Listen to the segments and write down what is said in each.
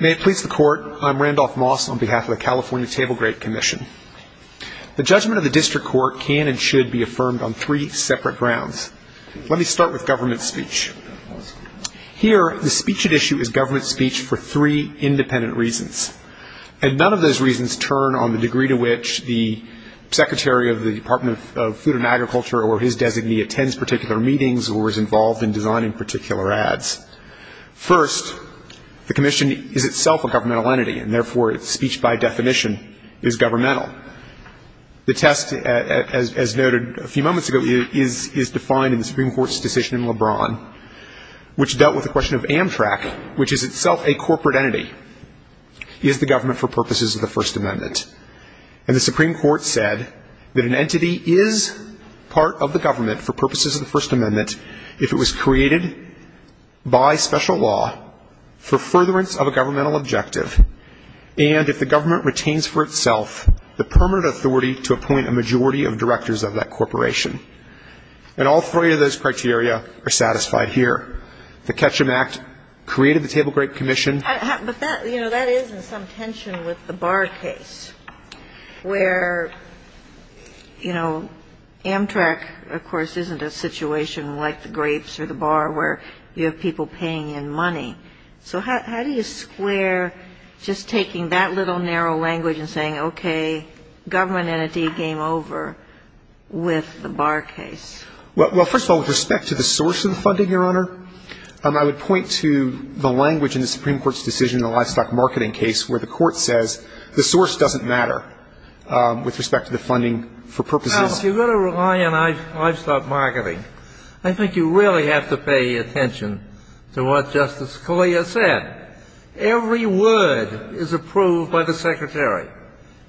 May it please the Court, I'm Randolph Moss on behalf of the California Table Grape Commission. The judgment of the District Court can and should be affirmed on three separate grounds. Let me start with government speech. Here, the speech at issue is government speech for three independent reasons, and none of those reasons turn on the degree to which the Secretary of the Department of Food and Agriculture or his designee attends particular meetings or is involved in designing particular ads. First, the Commission is itself a governmental entity, and therefore its speech by definition is governmental. The test, as noted a few moments ago, is defined in the Supreme Court's decision in LeBron, which dealt with the question of Amtrak, which is itself a corporate entity. Is the government for purposes of the First Amendment? And the Supreme Court said that an entity is part of the government for purposes of the First Amendment if it was created by special law for furtherance of a governmental objective and if the government retains for itself the permanent authority to appoint a majority of directors of that corporation. And all three of those criteria are satisfied here. The Ketchum Act created the Table Grape Commission. But that, you know, that is in some tension with the bar case where, you know, Amtrak, of course, isn't a situation like the grapes or the bar where you have people paying in money. So how do you square just taking that little narrow language and saying, okay, government entity game over with the bar case? Well, first of all, with respect to the source of the funding, Your Honor, I would point to the language in the Supreme Court's decision in the livestock marketing case where the Court says the source doesn't matter with respect to the funding for purposes. Now, if you're going to rely on livestock marketing, I think you really have to pay attention to what Justice Scalia said. Every word is approved by the Secretary.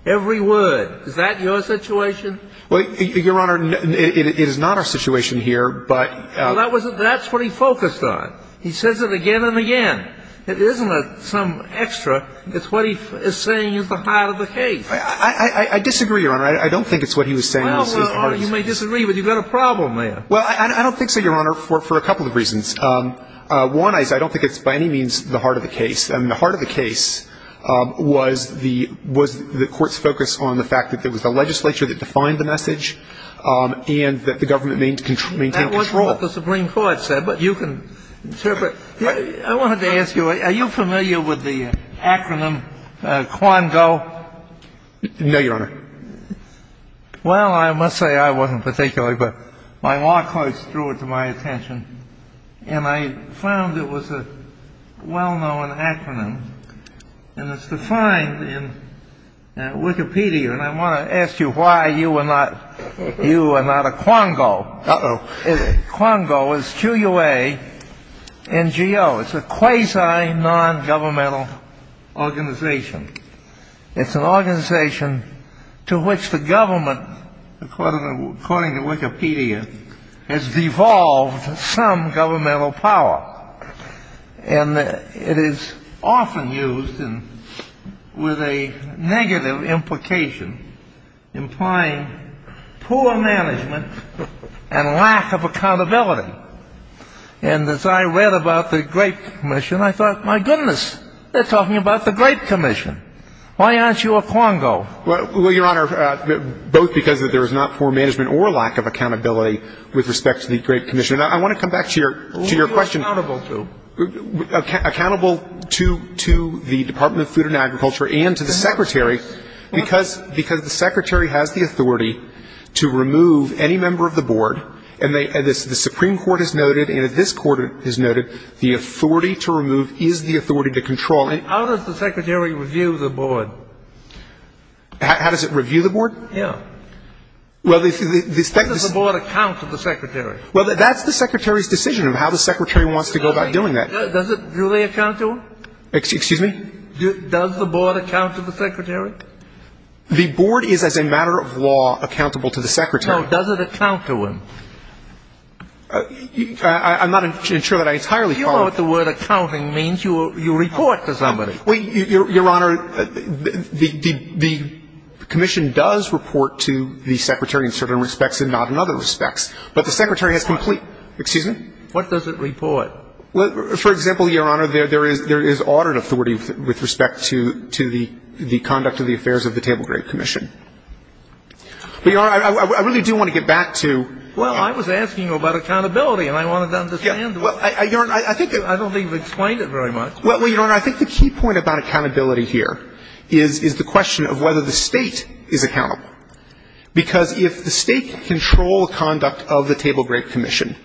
Every word. Is that your situation? Well, Your Honor, it is not our situation here, but — Well, that's what he focused on. He says it again and again. It isn't some extra. It's what he is saying is the heart of the case. I disagree, Your Honor. I don't think it's what he was saying. Well, Your Honor, you may disagree, but you've got a problem there. Well, I don't think so, Your Honor, for a couple of reasons. One is I don't think it's by any means the heart of the case. I mean, the heart of the case was the Court's focus on the fact that there was a legislature that defined the message and that the government maintained control. Well, that's what the Supreme Court said, but you can interpret. I wanted to ask you, are you familiar with the acronym QUANGO? No, Your Honor. Well, I must say I wasn't particularly, but my law clerks drew it to my attention, and I found it was a well-known acronym, and it's defined in Wikipedia. And I want to ask you why you are not a QUANGO. Uh-oh. QUANGO is Q-U-A-N-G-O. It's a quasi-nongovernmental organization. It's an organization to which the government, according to Wikipedia, has devolved some governmental power. And it is often used with a negative implication, implying poor management and lack of accountability. And as I read about the Grape Commission, I thought, my goodness, they're talking about the Grape Commission. Why aren't you a QUANGO? Well, Your Honor, both because there is not poor management or lack of accountability with respect to the Grape Commission. And I want to come back to your question. Who are you accountable to? Accountable to the Department of Food and Agriculture and to the Secretary, because the Secretary has the authority to remove any member of the board, and the Supreme Court has noted and this Court has noted the authority to remove is the authority to control. How does the Secretary review the board? How does it review the board? Yeah. Well, the Secretary — How does the board account to the Secretary? Well, that's the Secretary's decision of how the Secretary wants to go about doing that. Does it really account to him? Excuse me? Does the board account to the Secretary? The board is, as a matter of law, accountable to the Secretary. Now, does it account to him? I'm not sure that I entirely follow. You know what the word accounting means. You report to somebody. Well, Your Honor, the commission does report to the Secretary in certain respects and not in other respects. But the Secretary has complete — What? Excuse me? What does it report? For example, Your Honor, there is audit authority with respect to the conduct of the affairs of the table grade commission. But, Your Honor, I really do want to get back to — Well, I was asking about accountability, and I wanted to understand. Well, Your Honor, I think — I don't think you've explained it very much. Well, Your Honor, I think the key point about accountability here is the question of whether the State is accountable. Because if the State can control the conduct of the table grade commission,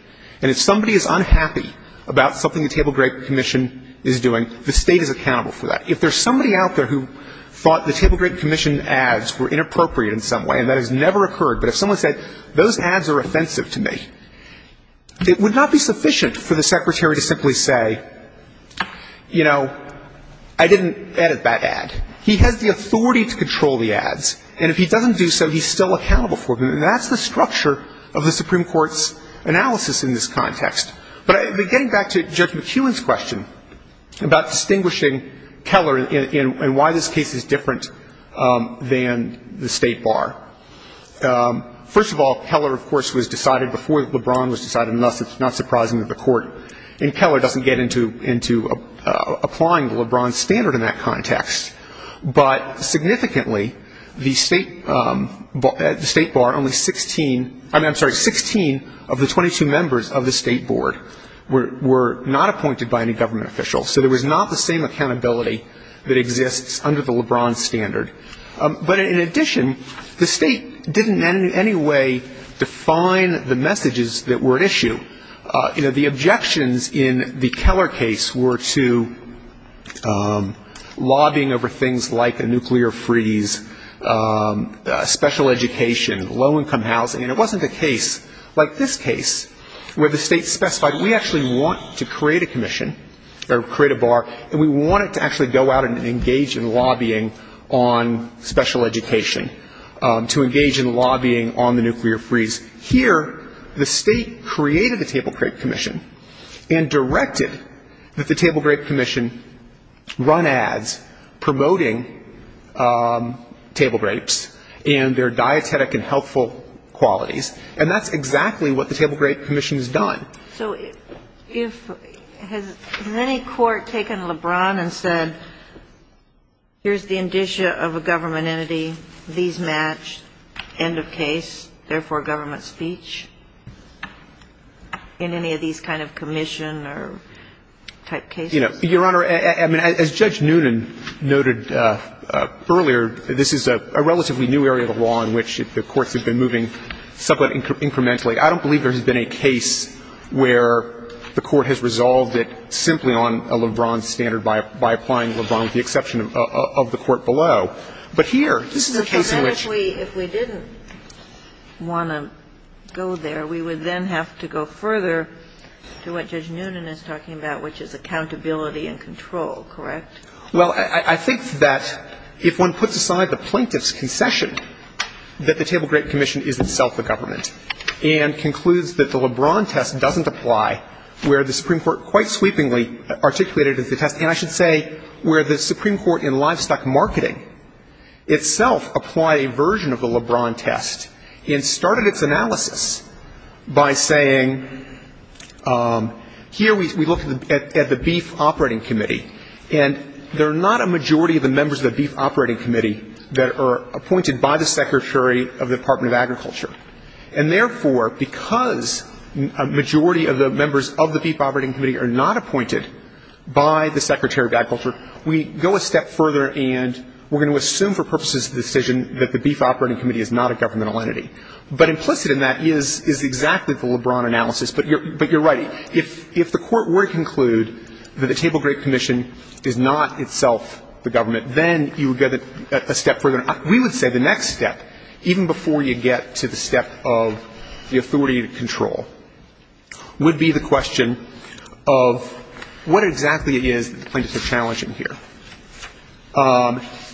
and if somebody is unhappy about something the table grade commission is doing, the State is accountable for that. If there's somebody out there who thought the table grade commission ads were inappropriate in some way, and that has never occurred, but if someone said, those ads are offensive to me, it would not be sufficient for the Secretary to simply say, you know, I didn't edit that ad. He has the authority to control the ads. And if he doesn't do so, he's still accountable for them. And that's the structure of the Supreme Court's analysis in this context. But getting back to Judge McKeown's question about distinguishing Keller and why this case is different than the State bar. First of all, Keller, of course, was decided before LeBron was decided, and thus it's not surprising that the Court in Keller doesn't get into applying the LeBron standard in that context. But significantly, the State bar, only 16 of the 22 members of the State board were not appointed by any government official. So there was not the same accountability that exists under the LeBron standard. But in addition, the State didn't in any way define the messages that were at issue. You know, the objections in the Keller case were to lobbying over things like a nuclear freeze, special education, low-income housing. And it wasn't a case like this case where the State specified, we actually want to create a commission or create a bar, and we want it to actually go out and engage in lobbying on special education, to engage in lobbying on the nuclear freeze. Here, the State created the Table Grape Commission and directed that the Table Grape Commission run ads promoting table grapes and their dietetic and healthful qualities. And that's exactly what the Table Grape Commission has done. So has any court taken LeBron and said, here's the indicia of a government entity, these match, end of case, therefore government speech, in any of these kind of commission or type cases? Your Honor, as Judge Noonan noted earlier, this is a relatively new area of the law in which the courts have been moving somewhat incrementally. I don't believe there has been a case where the Court has resolved it simply on a LeBron standard by applying LeBron, with the exception of the Court below. But here, this is a case in which the Court has resolved it. But then if we didn't want to go there, we would then have to go further to what Judge Noonan is talking about, which is accountability and control, correct? Well, I think that if one puts aside the plaintiff's concession, that the Table Grape Commission is itself the government. And concludes that the LeBron test doesn't apply where the Supreme Court quite sweepingly articulated the test. And I should say where the Supreme Court in livestock marketing itself applied a version of the LeBron test and started its analysis by saying, here we look at the Beef Operating Committee. And there are not a majority of the members of the Beef Operating Committee that are appointed by the Secretary of the Department of Agriculture. And therefore, because a majority of the members of the Beef Operating Committee are not appointed by the Secretary of Agriculture, we go a step further and we're going to assume for purposes of the decision that the Beef Operating Committee is not a governmental entity. But implicit in that is exactly the LeBron analysis. But you're right. If the Court were to conclude that the Table Grape Commission is not itself the government, then you would go a step further. We would say the next step, even before you get to the step of the authority to control, would be the question of what exactly it is that the plaintiffs are challenging here.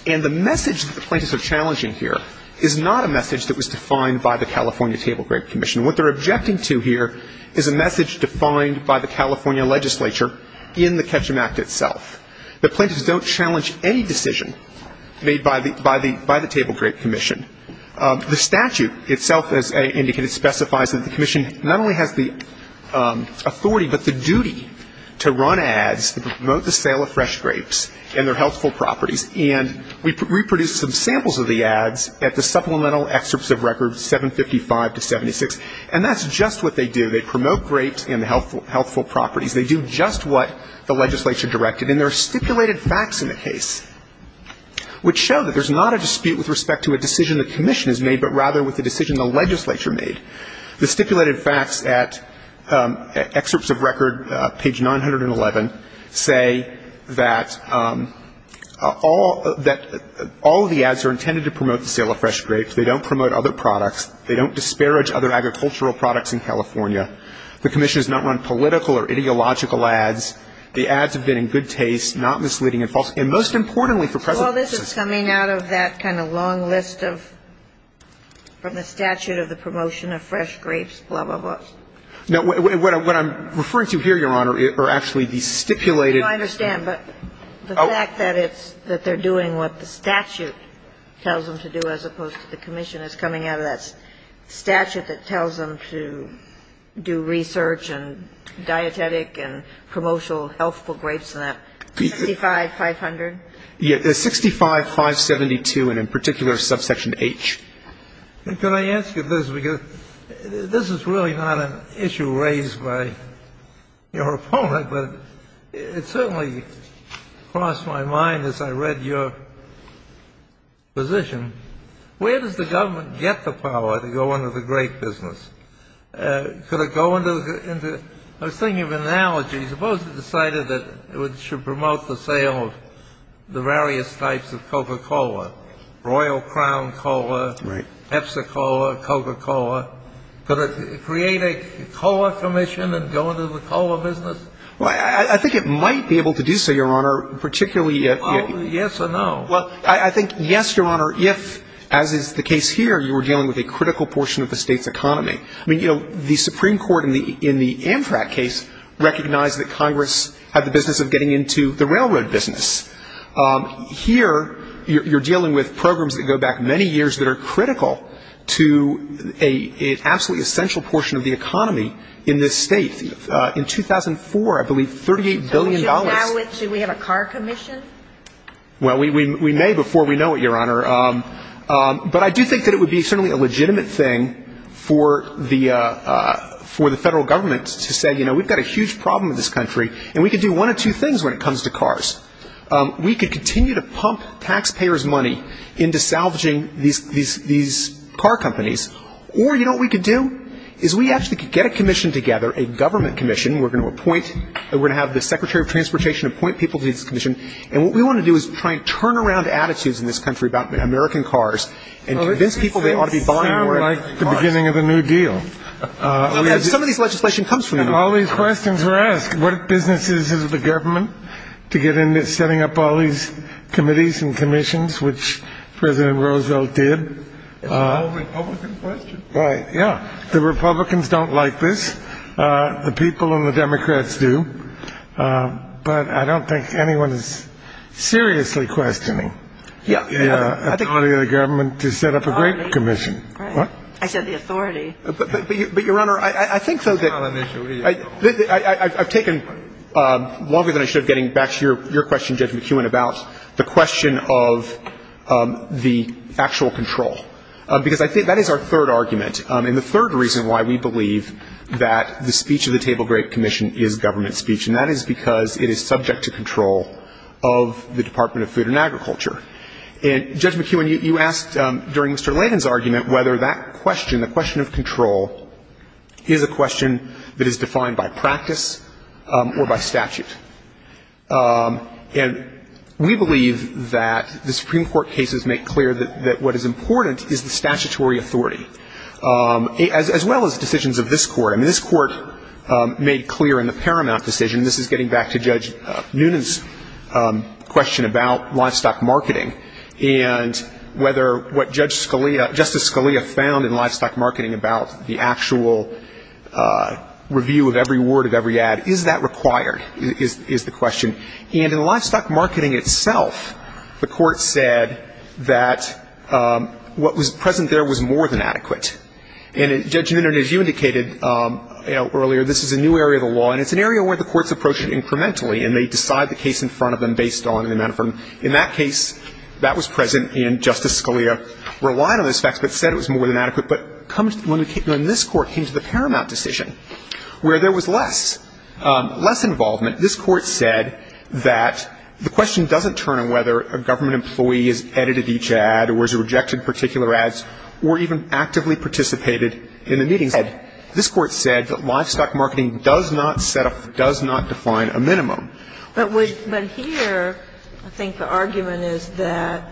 And the message that the plaintiffs are challenging here is not a message that was defined by the California Table Grape Commission. What they're objecting to here is a message defined by the California legislature in the Ketchum Act itself. The plaintiffs don't challenge any decision made by the Table Grape Commission. The statute itself, as indicated, specifies that the commission not only has the authority, but the duty to run ads to promote the sale of fresh grapes and their healthful properties. And we produced some samples of the ads at the supplemental excerpts of records 755 to 76. And that's just what they do. They promote grapes and the healthful properties. They do just what the legislature directed. And there are stipulated facts in the case which show that there's not a dispute with respect to a decision the commission has made, but rather with the decision the legislature made. The stipulated facts at excerpts of record, page 911, say that all of the ads are intended to promote the sale of fresh grapes. They don't promote other products. They don't disparage other agricultural products in California. The commission has not run political or ideological ads. The ads have been in good taste, not misleading and false. And most importantly for present purposes. Well, this is coming out of that kind of long list of the statute of the promotion of fresh grapes, blah, blah, blah. No. What I'm referring to here, Your Honor, are actually the stipulated. No, I understand. But the fact that it's that they're doing what the statute tells them to do as opposed The commission is coming out of that statute that tells them to do research and dietetic and promotional healthful grapes and that. 65500? Yeah. 65572 and in particular subsection H. Can I ask you this? Because this is really not an issue raised by your opponent, but it certainly crossed my mind as I read your position. Where does the government get the power to go into the grape business? Could it go into the — I was thinking of analogies. Suppose it decided that it should promote the sale of the various types of Coca-Cola. Royal Crown Cola. Right. Pepsi Cola, Coca-Cola. Could it create a cola commission and go into the cola business? Well, I think it might be able to do so, Your Honor, particularly if — Well, yes or no? Well, I think yes, Your Honor, if, as is the case here, you were dealing with a critical portion of the state's economy. I mean, you know, the Supreme Court in the Amtrak case recognized that Congress had the business of getting into the railroad business. Here you're dealing with programs that go back many years that are critical to an absolutely essential portion of the economy in this state. In 2004, I believe $38 billion — So we have a car commission? Well, we may before we know it, Your Honor. But I do think that it would be certainly a legitimate thing for the federal government to say, you know, we've got a huge problem in this country, and we can do one of two things when it comes to cars. We could continue to pump taxpayers' money into salvaging these car companies, or you know what we could do is we actually could get a commission together, a government commission. We're going to appoint — we're going to have the Secretary of Transportation appoint people to this commission. And what we want to do is try and turn around attitudes in this country about American cars and convince people they ought to be buying more at the beginning of the New Deal. Some of this legislation comes from that. All these questions are asked. What business is it of the government to get into setting up all these committees and commissions, which President Roosevelt did? It's a Republican question. Right, yeah. The Republicans don't like this. The people and the Democrats do. But I don't think anyone is seriously questioning the authority of the government to set up a great commission. Right. I said the authority. But, Your Honor, I think so that — It's not an issue. I've taken longer than I should getting back to your question, Judge McEwen, about the question of the actual control. Because I think that is our third argument. And the third reason why we believe that the speech of the table grape commission is government speech, and that is because it is subject to control of the Department of Food and Agriculture. And, Judge McEwen, you asked during Mr. Layden's argument whether that question, the question of control, is a question that is defined by practice or by statute. And we believe that the Supreme Court cases make clear that what is important is the statutory authority, as well as decisions of this Court. I mean, this Court made clear in the Paramount decision, and this is getting back to Judge Noonan's question about livestock marketing, and whether what Justice Scalia found in livestock marketing about the actual review of every word of every ad, is that required? Is the question. And in livestock marketing itself, the Court said that what was present there was more than adequate. And, Judge Noonan, as you indicated earlier, this is a new area of the law, and it's an area where the courts approach it incrementally, and they decide the case in front of them based on the amount of money. In that case, that was present, and Justice Scalia relied on those facts but said it was more than adequate. But when this Court came to the Paramount decision, where there was less, less involvement, this Court said that the question doesn't turn on whether a government employee has edited each ad or has rejected particular ads or even actively participated in the meetings. This Court said that livestock marketing does not set up, does not define a minimum. But here, I think the argument is that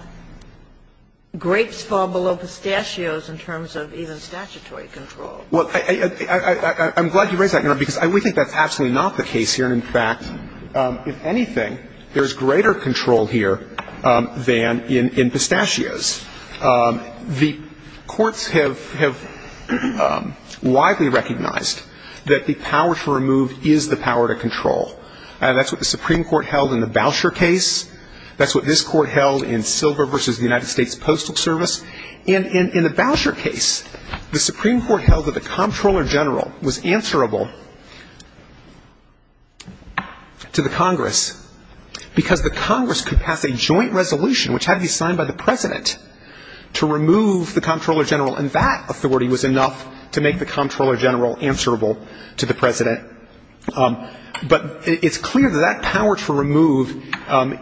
grapes fall below pistachios in terms of even statutory control. Well, I'm glad you raised that, Your Honor, because we think that's absolutely not the case here. And, in fact, if anything, there's greater control here than in pistachios. The courts have widely recognized that the power to remove is the power to control. That's what the Supreme Court held in the Boucher case. That's what this Court held in Silver v. the United States Postal Service. And in the Boucher case, the Supreme Court held that the Comptroller General was answerable to the Congress because the Congress could pass a joint resolution, which had to be signed by the President, to remove the Comptroller General, and that authority was enough to make the Comptroller General answerable to the President. But it's clear that that power to remove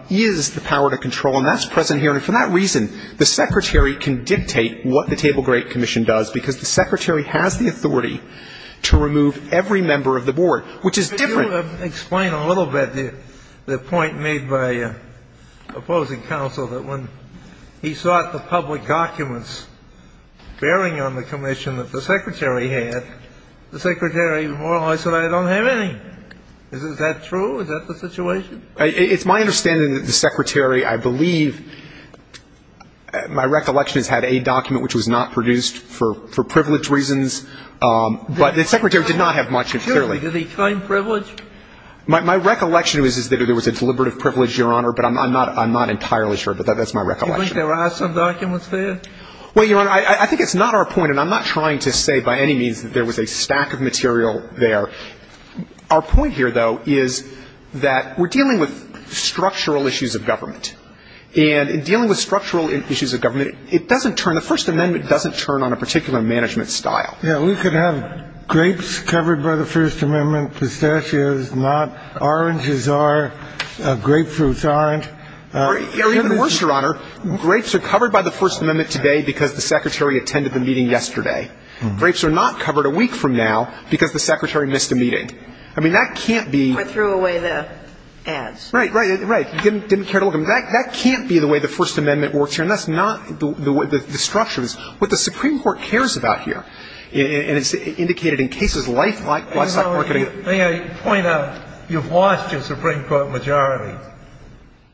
is the power to control, and that's present here. And for that reason, the Secretary can dictate what the Table Grape Commission does, because the Secretary has the authority to remove every member of the Board, which is different. Could you explain a little bit the point made by opposing counsel that when he sought the public documents bearing on the commission that the Secretary had, the Secretary more or less said, I don't have any. Is that true? Is that the situation? It's my understanding that the Secretary, I believe, my recollection is, had a document which was not produced for privilege reasons. But the Secretary did not have much, clearly. Did he claim privilege? My recollection is that there was a deliberative privilege, Your Honor, but I'm not entirely sure. But that's my recollection. Do you think there are some documents there? Well, Your Honor, I think it's not our point, and I'm not trying to say by any means that there was a stack of material there. Our point here, though, is that we're dealing with structural issues of government. And in dealing with structural issues of government, it doesn't turn, the First Amendment doesn't turn on a particular management style. Yeah, we could have grapes covered by the First Amendment, pistachios not, oranges are, grapefruits aren't. Or even worse, Your Honor, grapes are covered by the First Amendment today because the Secretary attended the meeting yesterday. Grapes are not covered a week from now because the Secretary missed a meeting. I mean, that can't be. Or threw away the ads. Right, right, right. Didn't care to look. I mean, that can't be the way the First Amendment works here. And that's not the way the structure is. What the Supreme Court cares about here, and it's indicated in cases like this. May I point out, you've lost your Supreme Court majority.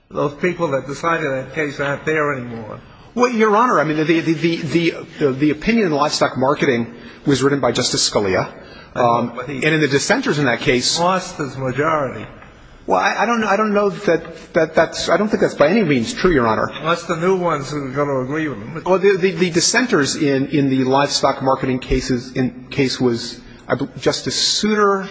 Those people that decided that case aren't there anymore. Well, Your Honor, I mean, the opinion in livestock marketing was written by Justice Scalia. And in the dissenters in that case. He lost his majority. Well, I don't know that that's, I don't think that's by any means true, Your Honor. Unless the new ones are going to agree with him. The dissenters in the livestock marketing case was Justice Souter.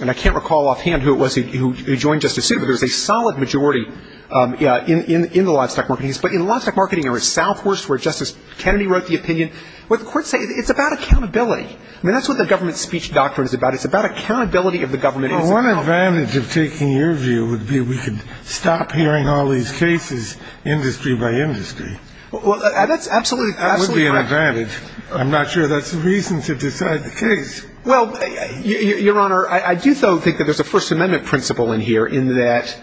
And I can't recall offhand who it was who joined Justice Souter, but there's a solid majority in the livestock marketing case. But in livestock marketing, there was Southworth, where Justice Kennedy wrote the opinion. What the courts say, it's about accountability. I mean, that's what the government speech doctrine is about. It's about accountability of the government. Well, one advantage of taking your view would be we could stop hearing all these cases industry by industry. Well, that's absolutely right. That would be an advantage. I'm not sure that's the reason to decide the case. Well, Your Honor, I do, though, think that there's a First Amendment principle in here, in that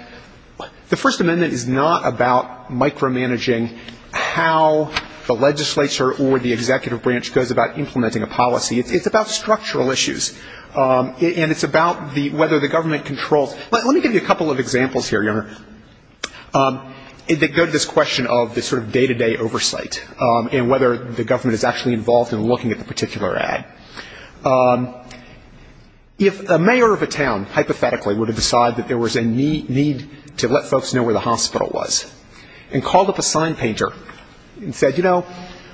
the First Amendment is not about micromanaging how the legislature or the executive branch goes about implementing a policy. It's about structural issues. And it's about whether the government controls. Let me give you a couple of examples here, Your Honor, that go to this question of the sort of day-to-day oversight and whether the government is actually involved in looking at the particular ad. If a mayor of a town, hypothetically, would have decided that there was a need to let folks know where the hospital was and called up a sign painter and said, you know,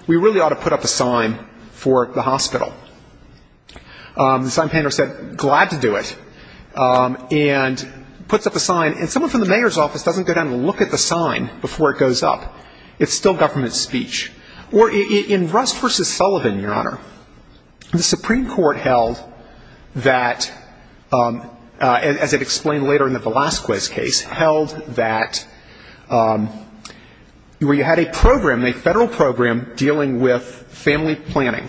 we really ought to put up a sign for the hospital. The sign painter said, glad to do it, and puts up a sign. And someone from the mayor's office doesn't go down and look at the sign before it goes up. It's still government speech. Or in Rust v. Sullivan, Your Honor, the Supreme Court held that, as it explained later in the Velazquez case, held that where you had a program, a federal program, dealing with family planning,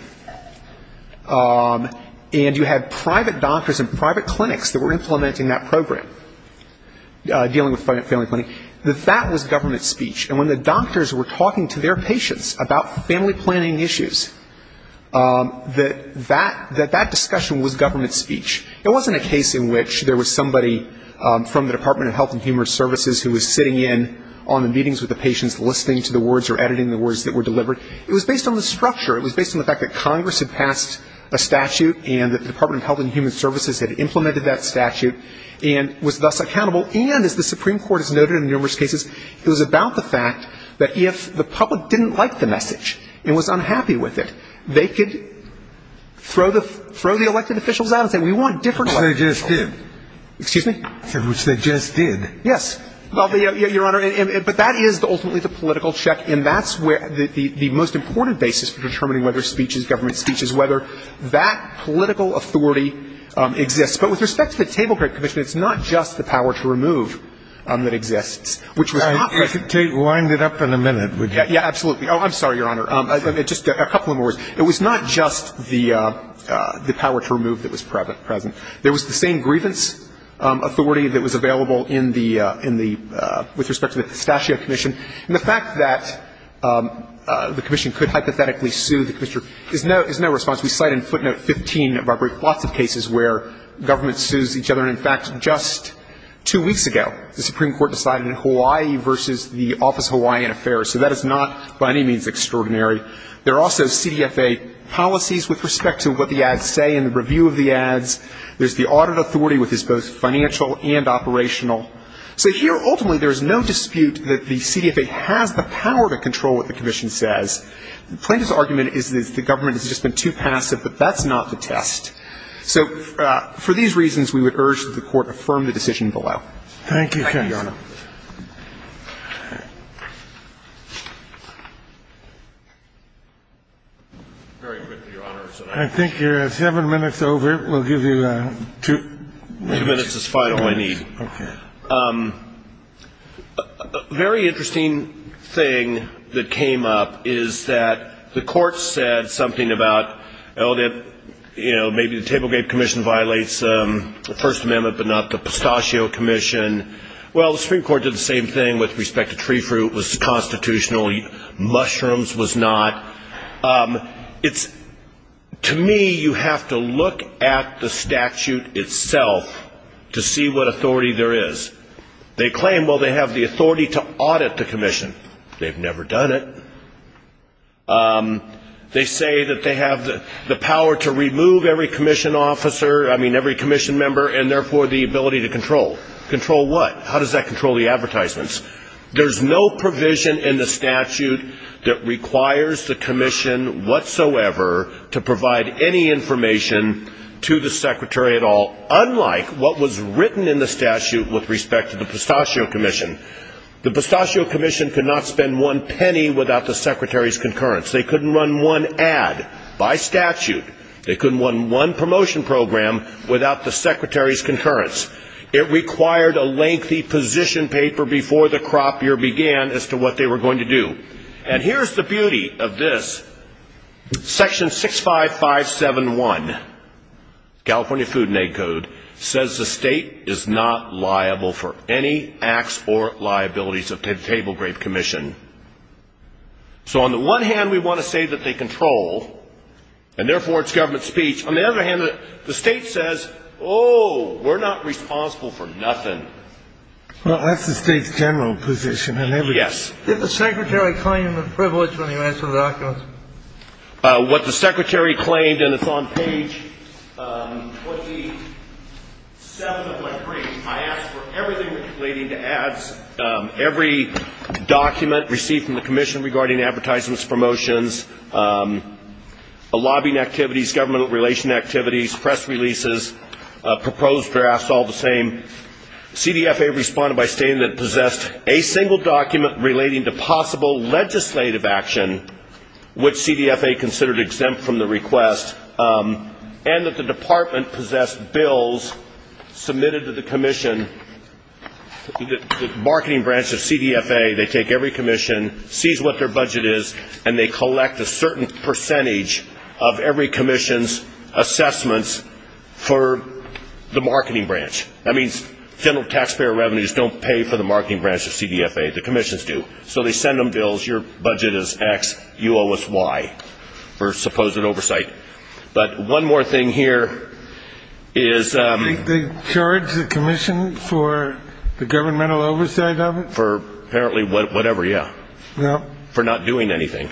and you had private doctors and private clinics that were implementing that program, dealing with family planning, that that was government speech. And when the doctors were talking to their patients about family planning issues, that that discussion was government speech. It wasn't a case in which there was somebody from the Department of Health and Human Services who was sitting in on the meetings with the patients, listening to the words or editing the words that were delivered. It was based on the structure. It was based on the fact that Congress had passed a statute and that the Department of Health and Human Services had implemented that statute and was thus accountable and, as the Supreme Court has noted in numerous cases, it was about the fact that if the public didn't like the message and was unhappy with it, they could throw the elected officials out and say, we want different elected officials. Which they just did. Excuse me? Which they just did. Yes. Well, Your Honor, but that is ultimately the political check, and that's where the most important basis for determining whether speech is government speech is whether that political authority exists. But with respect to the Table Crate Commission, it's not just the power to remove that exists, which was not present. I could wind it up in a minute, would you? Yeah, absolutely. Oh, I'm sorry, Your Honor. Just a couple more words. It was not just the power to remove that was present. There was the same grievance authority that was available in the – with respect to the Pistachio Commission. And the fact that the commission could hypothetically sue the commissioner is no response. We cite in footnote 15 of our brief lots of cases where government sues each other. And, in fact, just two weeks ago, the Supreme Court decided in Hawaii versus the Office of Hawaiian Affairs. So that is not by any means extraordinary. There are also CDFA policies with respect to what the ads say and the review of the ads. There's the audit authority, which is both financial and operational. So here, ultimately, there is no dispute that the CDFA has the power to control what the commission says. Plaintiff's argument is that the government has just been too passive. But that's not the test. So for these reasons, we would urge that the Court affirm the decision below. Thank you, Your Honor. Thank you, Your Honor. Very good, Your Honor. I think you're seven minutes over. We'll give you two minutes. Two minutes is final, I need. Okay. Very interesting thing that came up is that the Court said something about, you know, maybe the Table Gap Commission violates the First Amendment but not the Pistachio Commission. Well, the Supreme Court did the same thing with respect to tree fruit. It was constitutional. Mushrooms was not. It's, to me, you have to look at the statute itself to see what authority there is. They claim, well, they have the authority to audit the commission. They've never done it. They say that they have the power to remove every commission officer, I mean, every commission member, and therefore the ability to control. Control what? How does that control the advertisements? There's no provision in the statute that requires the commission whatsoever to provide any information to the secretary at all, unlike what was written in the statute with respect to the Pistachio Commission. The Pistachio Commission could not spend one penny without the secretary's concurrence. They couldn't run one ad by statute. They couldn't run one promotion program without the secretary's concurrence. It required a lengthy position paper before the crop year began as to what they were going to do. And here's the beauty of this. Section 65571, California Food and Ag Code, says the state is not liable for any acts or liabilities of the Table Grape Commission. So on the one hand, we want to say that they control, and therefore it's government speech. On the other hand, the state says, oh, we're not responsible for nothing. Well, that's the state's general position. Yes. Did the secretary claim the privilege when he ran through the documents? What the secretary claimed, and it's on page 27 of my brief, I asked for everything relating to ads, every document received from the commission regarding advertisements, promotions, lobbying activities, government relation activities, press releases, proposed drafts, all the same. CDFA responded by stating that it possessed a single document relating to possible legislative action, which CDFA considered exempt from the request, and that the department possessed bills submitted to the commission. The marketing branch of CDFA, they take every commission, sees what their budget is, and they collect a certain percentage of every commission's assessments for the marketing branch. That means general taxpayer revenues don't pay for the marketing branch of CDFA. The commissions do. So they send them bills. Your budget is X. You owe us Y for supposed oversight. But one more thing here is they charge the commission for the governmental oversight of it? For apparently whatever, yeah. For not doing anything.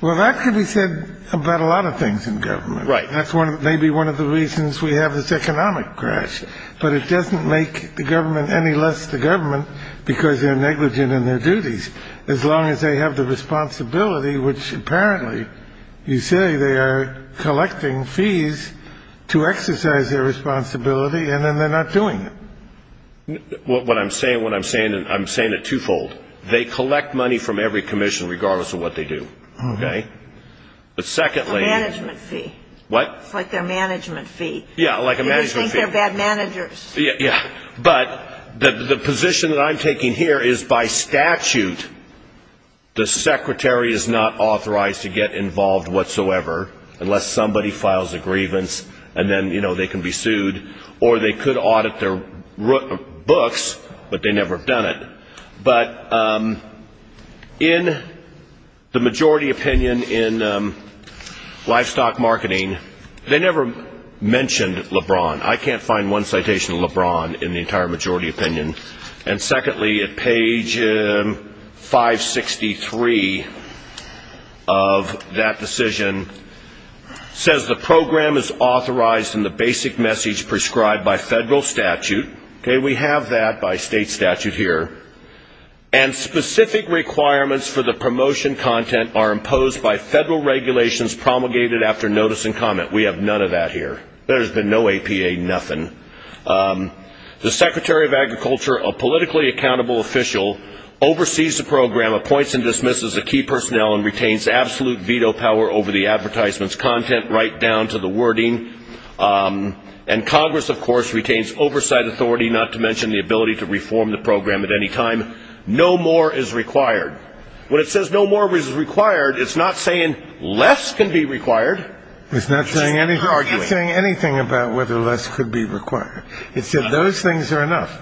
Well, that could be said about a lot of things in government. Right. That's maybe one of the reasons we have this economic crash. But it doesn't make the government any less the government because they're negligent in their duties, as long as they have the responsibility, which apparently you say they are collecting fees to exercise their responsibility, and then they're not doing it. What I'm saying, what I'm saying, I'm saying it twofold. They collect money from every commission regardless of what they do. Okay? A management fee. What? It's like their management fee. Yeah, like a management fee. They think they're bad managers. Yeah. But the position that I'm taking here is by statute the secretary is not authorized to get involved whatsoever, unless somebody files a grievance, and then they can be sued. Or they could audit their books, but they never have done it. But in the majority opinion in livestock marketing, they never mentioned LeBron. I can't find one citation of LeBron in the entire majority opinion. And secondly, at page 563 of that decision, it says the program is authorized in the basic message prescribed by federal statute. Okay, we have that by state statute here. And specific requirements for the promotion content are imposed by federal regulations promulgated after notice and comment. We have none of that here. There's been no APA, nothing. The secretary of agriculture, a politically accountable official, oversees the program, appoints and dismisses the key personnel, and retains absolute veto power over the advertisement's content right down to the wording. And Congress, of course, retains oversight authority, not to mention the ability to reform the program at any time. No more is required. When it says no more is required, it's not saying less can be required. It's not saying anything about whether less could be required. It said those things are enough.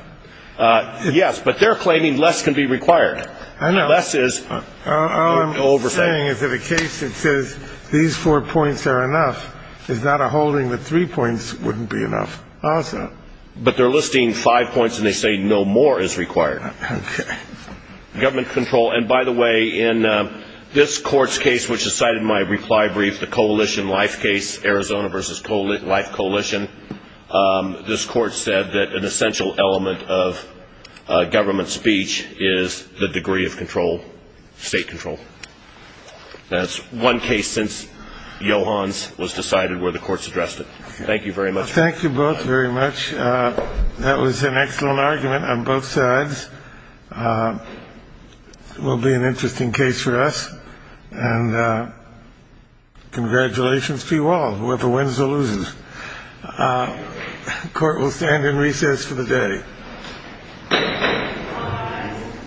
Yes, but they're claiming less can be required. Less is oversight. All I'm saying is that a case that says these four points are enough is not a holding that three points wouldn't be enough also. But they're listing five points, and they say no more is required. Okay. Government control. And, by the way, in this court's case, which is cited in my reply brief, the coalition life case, Arizona versus life coalition, this court said that an essential element of government speech is the degree of control, state control. That's one case since Johans was decided where the courts addressed it. Thank you very much. Thank you both very much. That was an excellent argument on both sides. It will be an interesting case for us. And congratulations to you all, whoever wins or loses. Court will stand in recess for the day.